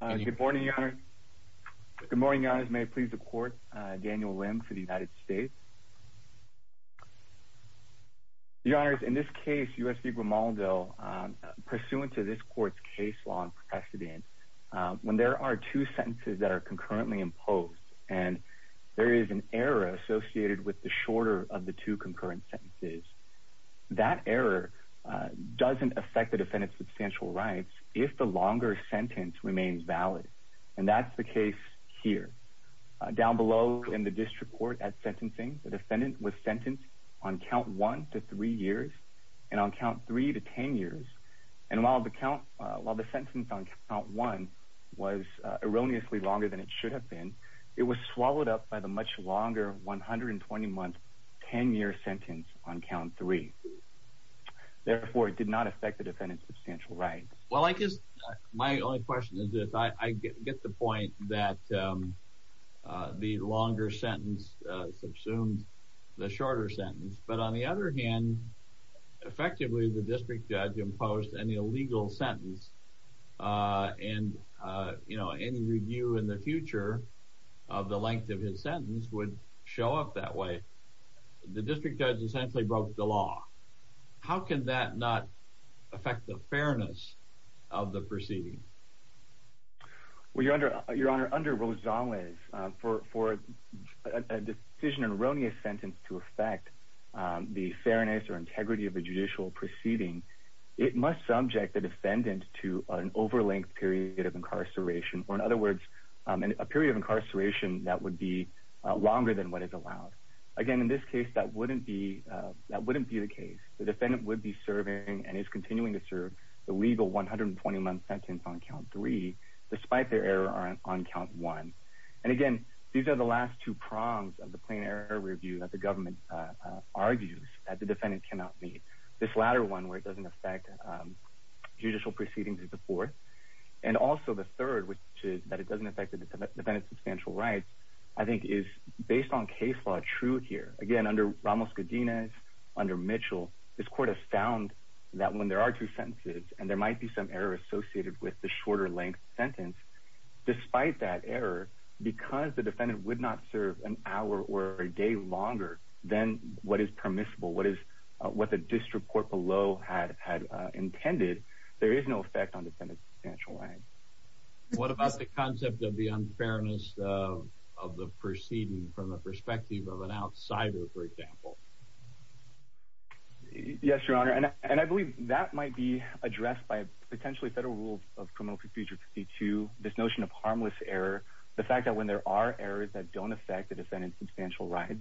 Good morning, Your Honor. Good morning, Your Honor. May I please the court, Daniel Lim for the United States. Your Honor, in this case, U.S. v. Grimaldo, pursuant to this court's case law and precedent, when there are two sentences that are concurrently imposed and there is an error associated with the shorter of the two concurrent sentences, that error doesn't affect the defendant's substantial rights if the longer sentence remains valid. And that's the case here. Down below in the district court at sentencing, the defendant was sentenced on count one to three years and on count three to ten years. And while the sentence on count one was erroneously longer than it should have been, it was swallowed up by the much longer 120-month, ten-year sentence on count three. Therefore, it did not affect the defendant's substantial rights. Well, I guess my only question is this. I get the point that the longer sentence subsumed the shorter sentence. But on the other hand, effectively, the district judge imposed an illegal sentence. And, you know, any review in the future of the length of his sentence would show up that way. The district judge essentially broke the law. How can that not affect the fairness of the proceeding? Well, Your Honor, under Rosales, for a decision erroneous sentence to affect the fairness or integrity of a judicial proceeding, it must subject the defendant to an over-length period of incarceration, or in other words, a period of incarceration that would be longer than what is allowed. Again, in this case, that wouldn't be the case. The defendant would be serving and is continuing to serve the legal 120-month sentence on count three, despite their error on count one. And again, these are the last two prongs of the plain error review that the government argues that the defendant cannot meet. This latter one, where it doesn't affect judicial proceedings, is the fourth. And also the third, which is that it doesn't affect the defendant's substantial rights, I think is, based on case law, true here. Again, under Ramos-Godinez, under Mitchell, this Court has found that when there are two sentences and there might be some error associated with the shorter-length sentence, despite that error, because the defendant would not serve an hour or a day longer than what is permissible, what the disreport below had intended, there is no effect on the defendant's substantial rights. What about the concept of the unfairness of the proceeding from the perspective of an outsider, for example? Yes, Your Honor, and I believe that might be addressed by potentially federal rules of criminal procedure 52, this notion of harmless error, the fact that when there are errors that don't affect the defendant's substantial rights,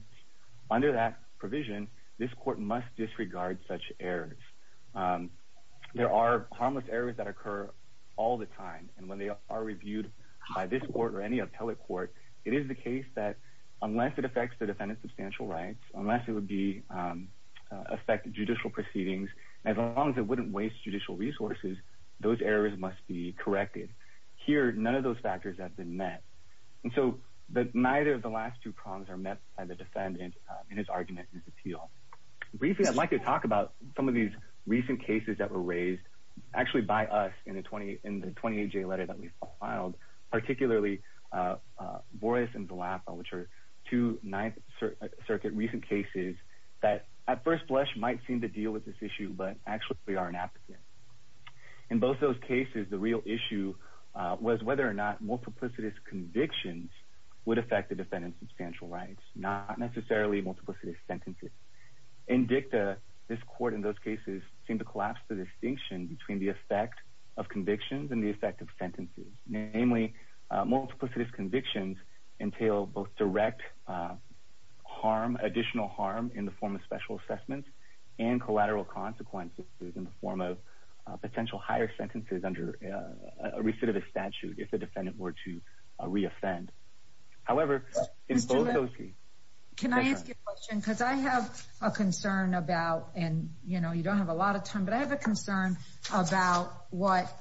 under that provision, this Court must disregard such errors. There are harmless errors that occur all the time, and when they are reviewed by this Court or any appellate court, it is the case that unless it affects the defendant's substantial rights, unless it would affect judicial proceedings, as long as it wouldn't waste judicial resources, those errors must be corrected. Here, none of those factors have been met, and so neither of the last two prongs are met by the defendant in his argument and his appeal. Briefly, I'd like to talk about some of these recent cases that were raised actually by us in the 28-J letter that we filed, particularly Boris and Villapa, which are two Ninth Circuit recent cases that at first blush might seem to deal with this issue, but actually are an applicant. In both those cases, the real issue was whether or not multiplicitous convictions would affect the defendant's substantial rights, not necessarily multiplicitous sentences. In DICTA, this Court in those cases seemed to collapse the distinction between the effect of convictions and the effect of sentences, namely multiplicitous convictions entail both direct additional harm in the form of special assessments and collateral consequences in the form of potential higher sentences under a recidivist statute if the defendant were to reoffend. However, in both those cases... Can I ask you a question, because I have a concern about, and you know, you don't have a lot of time, but I have a concern about what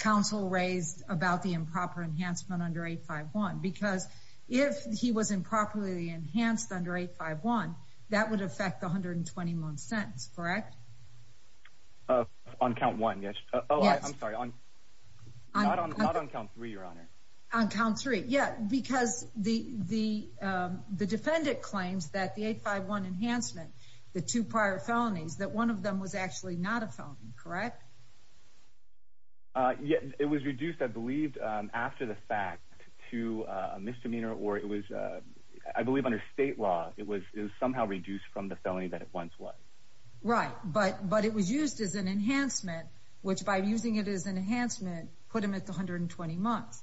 counsel raised about the improper enhancement under 851, because if he was improperly enhanced under 851, that would affect the 121 sentence, correct? On count one, yes. Oh, I'm sorry, not on count three, Your Honor. On count three, yes, because the defendant claims that the 851 enhancement, the two prior felonies, that one of them was actually not a felony, correct? Yes, it was reduced, I believe, after the fact to a misdemeanor, or it was, I believe under state law, it was somehow reduced from the felony that it once was. Right, but it was used as an enhancement, which by using it as an enhancement put him at 120 months.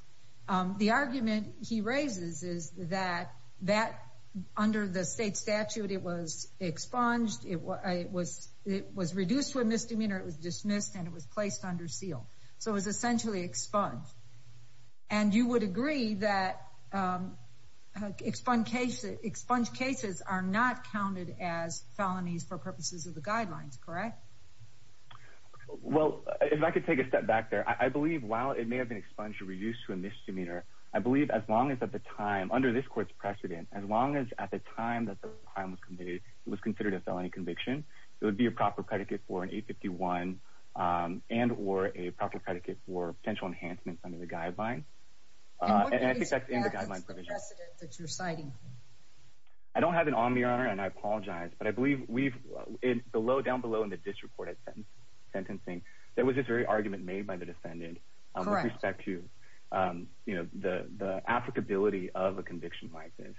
The argument he raises is that under the state statute it was expunged, it was reduced to a misdemeanor, it was dismissed, and it was placed under seal. So it was essentially expunged. And you would agree that expunged cases are not counted as felonies for purposes of the guidelines, correct? Well, if I could take a step back there. I believe while it may have been expunged or reduced to a misdemeanor, I believe as long as at the time, under this court's precedent, as long as at the time that the crime was committed it was considered a felony conviction, it would be a proper predicate for an 851 and or a proper predicate for potential enhancements under the guidelines. In what case is that the precedent that you're citing? I don't have it on me, Your Honor, and I apologize, but I believe we've, down below in the district court at sentencing there was this very argument made by the defendant with respect to the applicability of a conviction like this.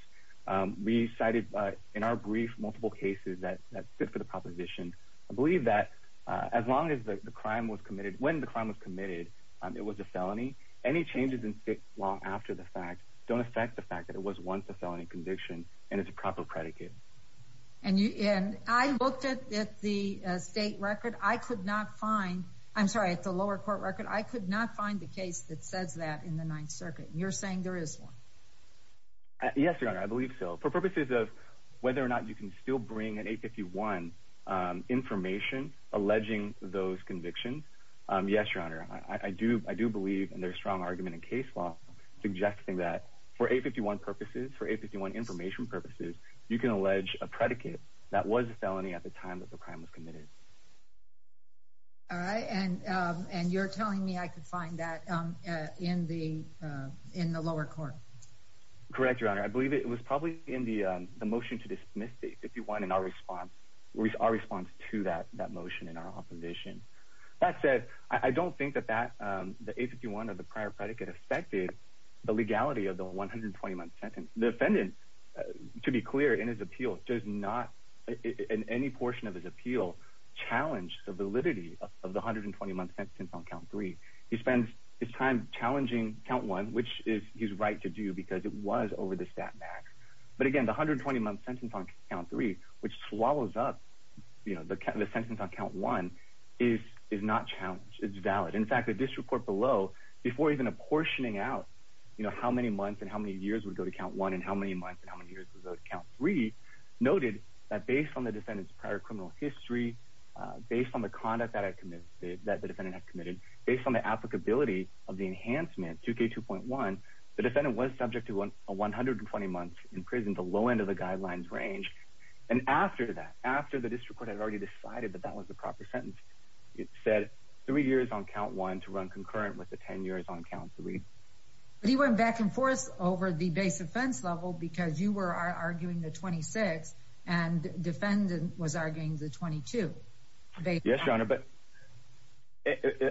We cited in our brief multiple cases that fit for the proposition. I believe that as long as the crime was committed, when the crime was committed, it was a felony. Any changes in state law after the fact don't affect the fact that it was once a felony conviction and it's a proper predicate. And I looked at the state record. I could not find, I'm sorry, at the lower court record. I could not find the case that says that in the Ninth Circuit. You're saying there is one? Yes, Your Honor, I believe so. For purposes of whether or not you can still bring an 851 information alleging those convictions, yes, Your Honor, I do believe in their strong argument in case law suggesting that for 851 purposes, for 851 information purposes, you can allege a predicate that was a felony at the time that the crime was committed. All right. And you're telling me I could find that in the lower court? Correct, Your Honor. I believe it was probably in the motion to dismiss the 851 in our response to that motion in our opposition. That said, I don't think that the 851 or the prior predicate affected the legality of the 120-month sentence. The defendant, to be clear, in his appeal, does not, in any portion of his appeal, challenge the validity of the 120-month sentence on Count 3. He spends his time challenging Count 1, which is his right to do because it was over the stat max. But, again, the 120-month sentence on Count 3, which swallows up the sentence on Count 1, is not challenged. It's valid. In fact, the district court below, before even apportioning out, you know, how many months and how many years would go to Count 1 and how many months and how many years would go to Count 3, noted that based on the defendant's prior criminal history, based on the conduct that the defendant had committed, based on the applicability of the enhancement, 2K2.1, the defendant was subject to a 120-month in prison, the low end of the guidelines range. And after that, after the district court had already decided that that was the proper sentence, it said three years on Count 1 to run concurrent with the 10 years on Count 3. But he went back and forth over the base offense level because you were arguing the 26 and the defendant was arguing the 22. Yes, Your Honor, but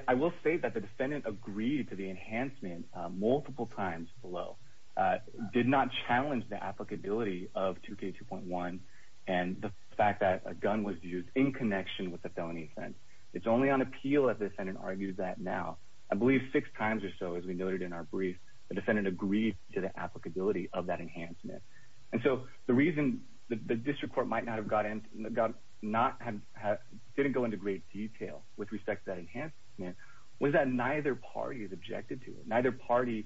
I will say that the defendant agreed to the enhancement multiple times below, did not challenge the applicability of 2K2.1 and the fact that a gun was used in connection with the felony offense. It's only on appeal that the defendant argued that now. I believe six times or so, as we noted in our brief, the defendant agreed to the applicability of that enhancement. And so the reason the district court might not have got in, didn't go into great detail with respect to that enhancement was that neither party objected to it. Neither party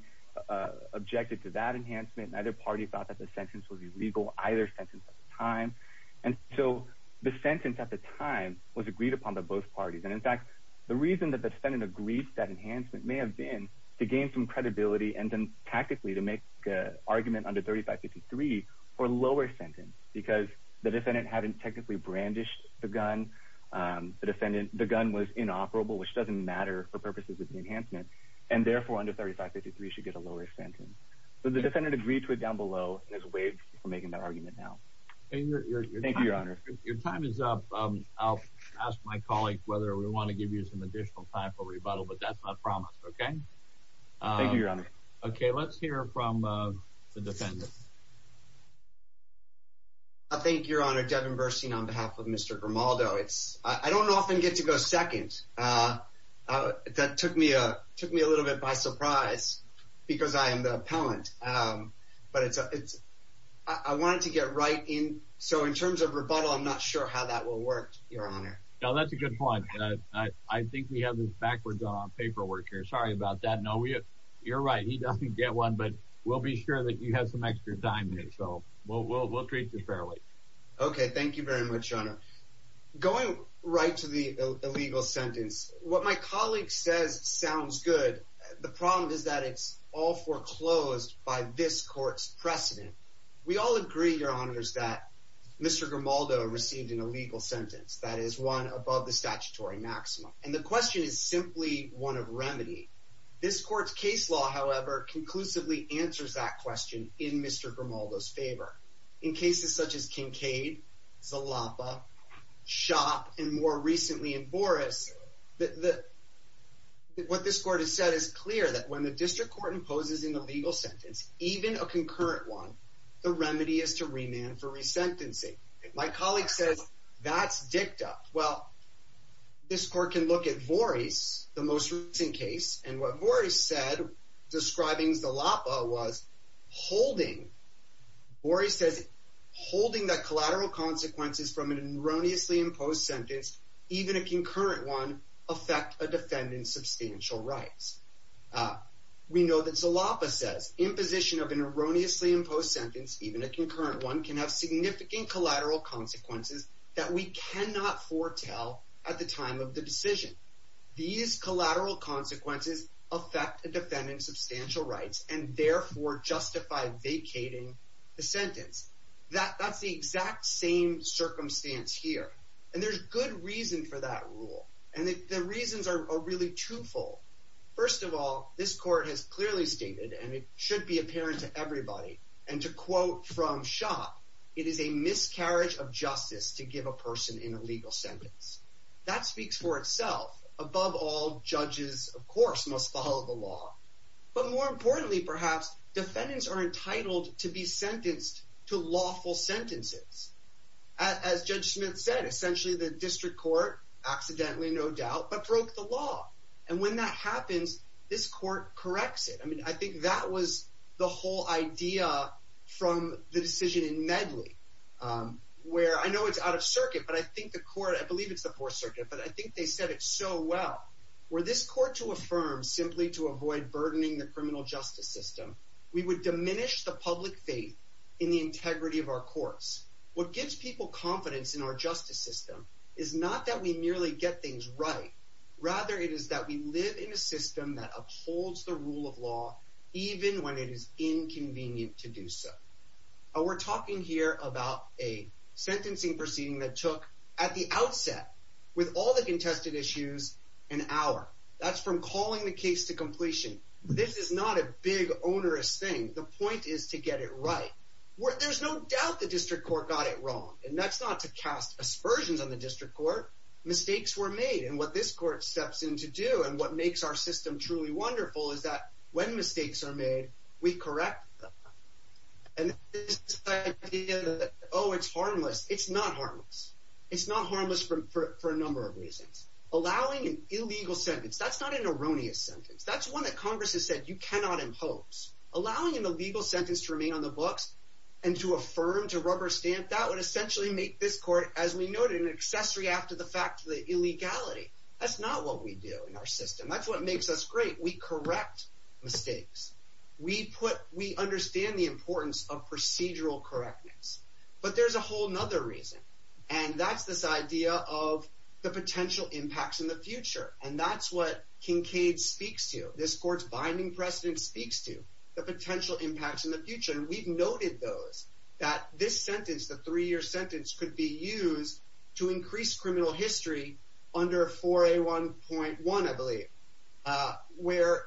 objected to that enhancement. Neither party thought that the sentence was illegal, either sentence at the time. And so the sentence at the time was agreed upon by both parties. And in fact, the reason that the defendant agreed to that enhancement may have been to gain some credibility and then tactically to make an argument under 3553 for a lower sentence because the defendant hadn't technically brandished the gun. The gun was inoperable, which doesn't matter for purposes of the enhancement, and therefore under 3553 should get a lower sentence. So the defendant agreed to it down below and is waived for making that argument now. Thank you, Your Honor. Your time is up. I'll ask my colleague whether we want to give you some additional time for rebuttal, but that's not promised, okay? Thank you, Your Honor. Okay, let's hear from the defendant. Thank you, Your Honor. Devin Burstein on behalf of Mr. Grimaldo. I don't often get to go second. That took me a little bit by surprise because I am the appellant. But I wanted to get right in. So in terms of rebuttal, I'm not sure how that will work, Your Honor. No, that's a good point. I think we have this backwards on our paperwork here. Sorry about that. No, you're right. He doesn't get one, but we'll be sure that you have some extra time here. So we'll treat you fairly. Okay, thank you very much, Your Honor. Going right to the illegal sentence, what my colleague says sounds good. The problem is that it's all foreclosed by this court's precedent. We all agree, Your Honors, that Mr. Grimaldo received an illegal sentence, that is, one above the statutory maximum. And the question is simply one of remedy. This court's case law, however, conclusively answers that question in Mr. Grimaldo's favor. In cases such as Kincade, Zalapa, Shoppe, and more recently in Boris, what this court has said is clear that when the district court imposes an illegal sentence, even a concurrent one, the remedy is to remand for resentencing. My colleague says that's dicta. Well, this court can look at Boris, the most recent case, and what Boris said describing Zalapa was, Boris says, holding the collateral consequences from an erroneously imposed sentence, even a concurrent one, affect a defendant's substantial rights. We know that Zalapa says, imposition of an erroneously imposed sentence, even a concurrent one, can have significant collateral consequences that we cannot foretell at the time of the decision. These collateral consequences affect a defendant's substantial rights and therefore justify vacating the sentence. That's the exact same circumstance here. And there's good reason for that rule, and the reasons are really twofold. First of all, this court has clearly stated, and it should be apparent to everybody, and to quote from Shoppe, it is a miscarriage of justice to give a person an illegal sentence. That speaks for itself. Above all, judges, of course, must follow the law. But more importantly, perhaps, defendants are entitled to be sentenced to lawful sentences. As Judge Smith said, essentially the district court, accidentally, no doubt, but broke the law. And when that happens, this court corrects it. I mean, I think that was the whole idea from the decision in Medley, where I know it's out of circuit, but I think the court, I believe it's the Fourth Circuit, but I think they said it so well. Were this court to affirm simply to avoid burdening the criminal justice system, we would diminish the public faith in the integrity of our courts. What gives people confidence in our justice system is not that we merely get things right. Rather, it is that we live in a system that upholds the rule of law, even when it is inconvenient to do so. We're talking here about a sentencing proceeding that took, at the outset, with all the contested issues, an hour. That's from calling the case to completion. This is not a big, onerous thing. The point is to get it right. There's no doubt the district court got it wrong. And that's not to cast aspersions on the district court. Mistakes were made. And what this court steps in to do, and what makes our system truly wonderful, is that when mistakes are made, we correct them. And this idea that, oh, it's harmless, it's not harmless. It's not harmless for a number of reasons. Allowing an illegal sentence, that's not an erroneous sentence. That's one that Congress has said you cannot impose. Allowing an illegal sentence to remain on the books and to affirm, to rubber stamp, that would essentially make this court, as we noted, an accessory after the fact to the illegality. That's not what we do in our system. That's what makes us great. We correct mistakes. We understand the importance of procedural correctness. But there's a whole other reason. And that's this idea of the potential impacts in the future. And that's what Kincaid speaks to. This court's binding precedent speaks to the potential impacts in the future. And we've noted those. That this sentence, the three-year sentence, could be used to increase criminal history under 4A1.1, I believe, where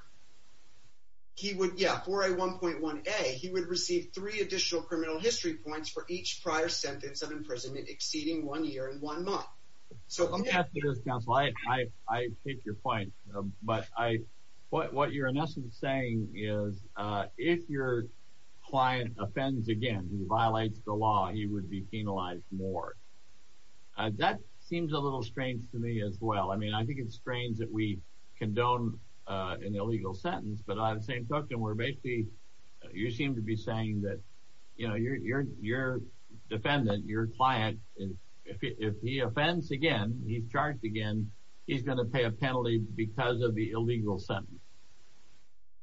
he would, yeah, 4A1.1a, he would receive three additional criminal history points for each prior sentence of imprisonment exceeding one year and one month. So I'm going to ask you this, counsel. I take your point. But what you're in essence saying is, if your client offends again, if he violates the law, he would be penalized more. That seems a little strange to me as well. I mean, I think it's strange that we condone an illegal sentence. But on the same token, we're basically, you seem to be saying that, you know, your defendant, your client, if he offends again, he's charged again, he's going to pay a penalty because of the illegal sentence.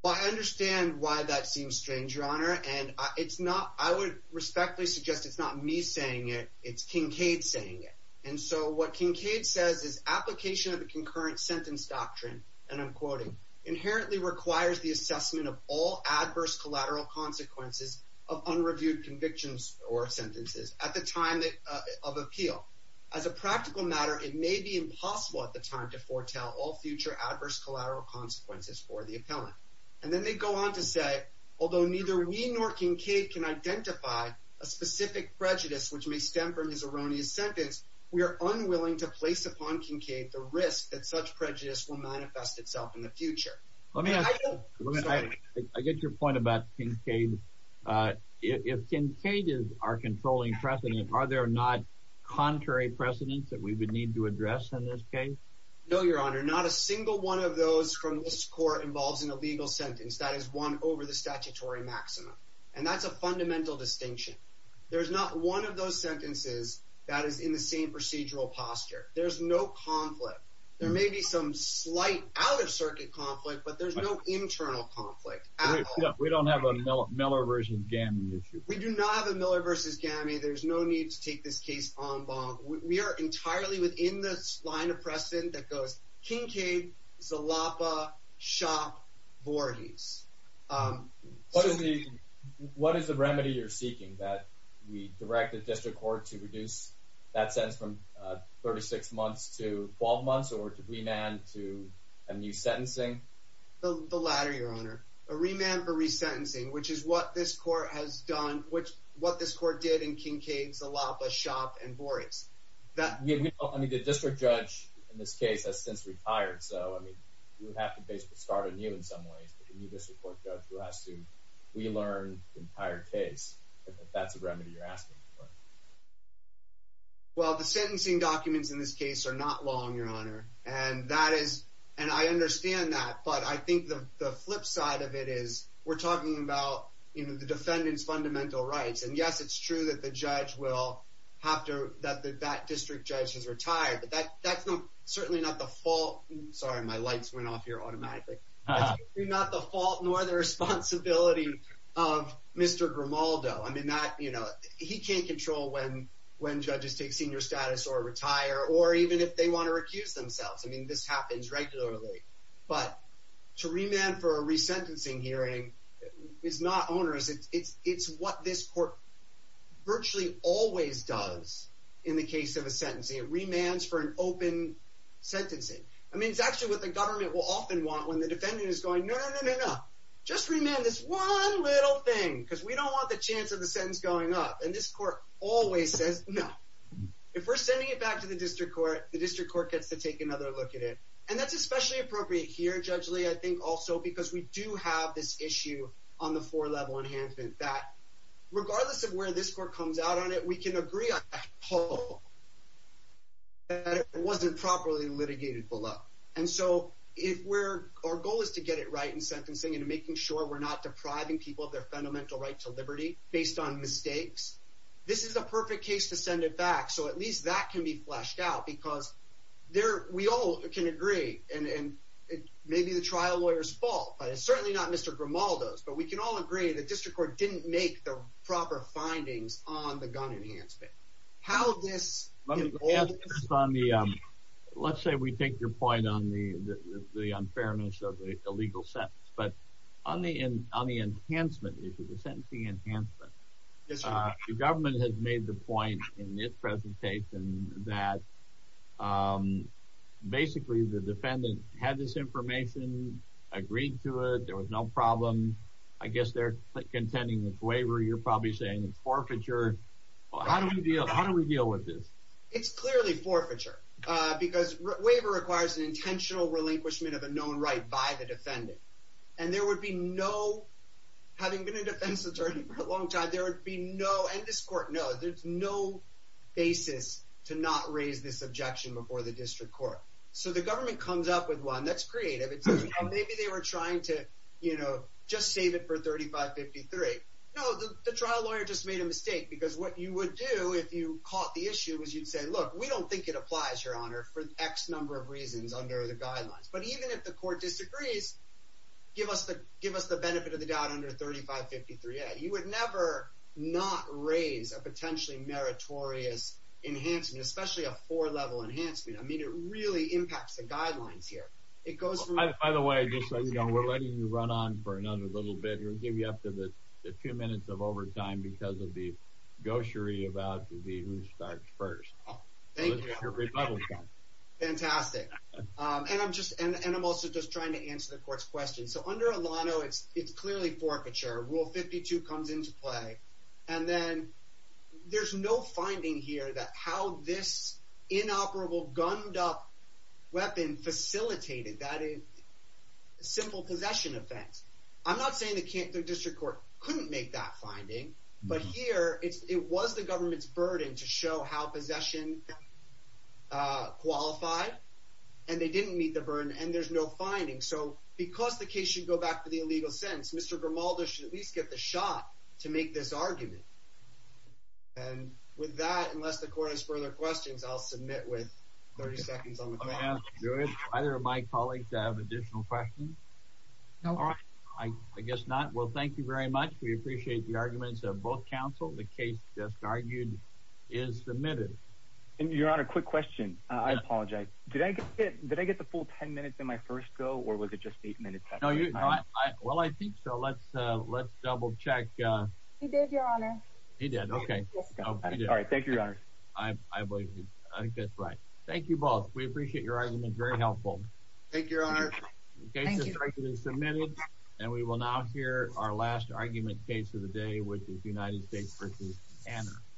Well, I understand why that seems strange, Your Honor. And I would respectfully suggest it's not me saying it. It's Kincaid saying it. And so what Kincaid says is, application of the concurrent sentence doctrine, and I'm quoting, inherently requires the assessment of all adverse collateral consequences of unreviewed convictions or sentences at the time of appeal. As a practical matter, it may be impossible at the time to foretell all future adverse collateral consequences for the appellant. And then they go on to say, although neither we nor Kincaid can identify a specific prejudice which may stem from his erroneous sentence, we are unwilling to place upon Kincaid the risk that such prejudice will manifest itself in the future. I get your point about Kincaid. If Kincaid is our controlling precedent, are there not contrary precedents that we would need to address in this case? No, Your Honor. Not a single one of those from this court involves an illegal sentence. That is one over the statutory maximum. And that's a fundamental distinction. There's not one of those sentences that is in the same procedural posture. There's no conflict. There may be some slight out-of-circuit conflict, but there's no internal conflict at all. We don't have a Miller v. Gammey issue. We do not have a Miller v. Gammey. There's no need to take this case en banc. We are entirely within this line of precedent that goes, Kincaid, Zalapa, Shopp, Voorhees. What is the remedy you're seeking, that we direct the district court to reduce that sentence from 36 months to 12 months or to remand to a new sentencing? The latter, Your Honor. A remand for resentencing, which is what this court has done, what this court did in Kincaid, Zalapa, Shopp, and Voorhees. The district judge in this case has since retired, so we have to basically start anew in some ways. We need a district court judge who has to relearn the entire case, if that's a remedy you're asking for. Well, the sentencing documents in this case are not long, Your Honor. And I understand that, but I think the flip side of it is we're talking about the defendant's fundamental rights. And, yes, it's true that the judge will have to, that that district judge has retired, but that's certainly not the fault. Sorry, my lights went off here automatically. It's certainly not the fault nor the responsibility of Mr. Grimaldo. I mean, that, you know, he can't control when judges take senior status or retire or even if they want to recuse themselves. I mean, this happens regularly. But to remand for a resentencing hearing is not onerous. It's what this court virtually always does in the case of a sentencing. It remands for an open sentencing. I mean, it's actually what the government will often want when the defendant is going, no, no, no, no, no. Just remand this one little thing because we don't want the chance of the sentence going up. And this court always says no. If we're sending it back to the district court, the district court gets to take another look at it. And that's especially appropriate here, Judge Lee, I think also because we do have this issue on the four-level enhancement that regardless of where this court comes out on it, we can agree on that whole that it wasn't properly litigated below. And so if we're – our goal is to get it right in sentencing and making sure we're not depriving people of their fundamental right to liberty based on mistakes. This is a perfect case to send it back, so at least that can be fleshed out because we all can agree, and it may be the trial lawyer's fault, but it's certainly not Mr. Grimaldo's. But we can all agree the district court didn't make the proper findings on the gun enhancement. How this – Let's say we take your point on the unfairness of the legal sentence. But on the enhancement issue, the sentencing enhancement, the government has made the point in its presentation that basically the defendant had this information, agreed to it, there was no problem. I guess they're contending it's waiver. You're probably saying it's forfeiture. How do we deal with this? It's clearly forfeiture because waiver requires an intentional relinquishment of a known right by the defendant. And there would be no – having been a defense attorney for a long time, there would be no – and this court knows there's no basis to not raise this objection before the district court. So the government comes up with one. That's creative. Maybe they were trying to just save it for 3553. No, the trial lawyer just made a mistake because what you would do if you caught the issue is you'd say, look, we don't think it applies, Your Honor, for X number of reasons under the guidelines. But even if the court disagrees, give us the benefit of the doubt under 3553A. You would never not raise a potentially meritorious enhancement, especially a four-level enhancement. I mean, it really impacts the guidelines here. It goes from – By the way, just so you know, we're letting you run on for another little bit. We'll give you up to the two minutes of overtime because of the goshery about the who starts first. Thank you. Fantastic. And I'm also just trying to answer the court's question. So under Elano, it's clearly forfeiture. Rule 52 comes into play. And then there's no finding here that how this inoperable, gunned-up weapon facilitated that simple possession offense. I'm not saying the district court couldn't make that finding, but here it was the government's burden to show how possession qualified, and they didn't meet the burden, and there's no finding. So because the case should go back to the illegal sentence, Mr. Grimaldo should at least get the shot to make this argument. And with that, unless the court has further questions, I'll submit with 30 seconds on the clock. Do either of my colleagues have additional questions? No. I guess not. Well, thank you very much. We appreciate the arguments of both counsel. The case just argued is submitted. And, Your Honor, quick question. I apologize. Did I get the full ten minutes in my first go, or was it just eight minutes? Well, I think so. Let's double-check. He did, Your Honor. He did. Okay. All right. Thank you, Your Honor. I think that's right. Thank you both. We appreciate your arguments. Very helpful. Thank you, Your Honor. The case is directly submitted. And we will now hear our last argument case of the day, which is United States v. Hanna.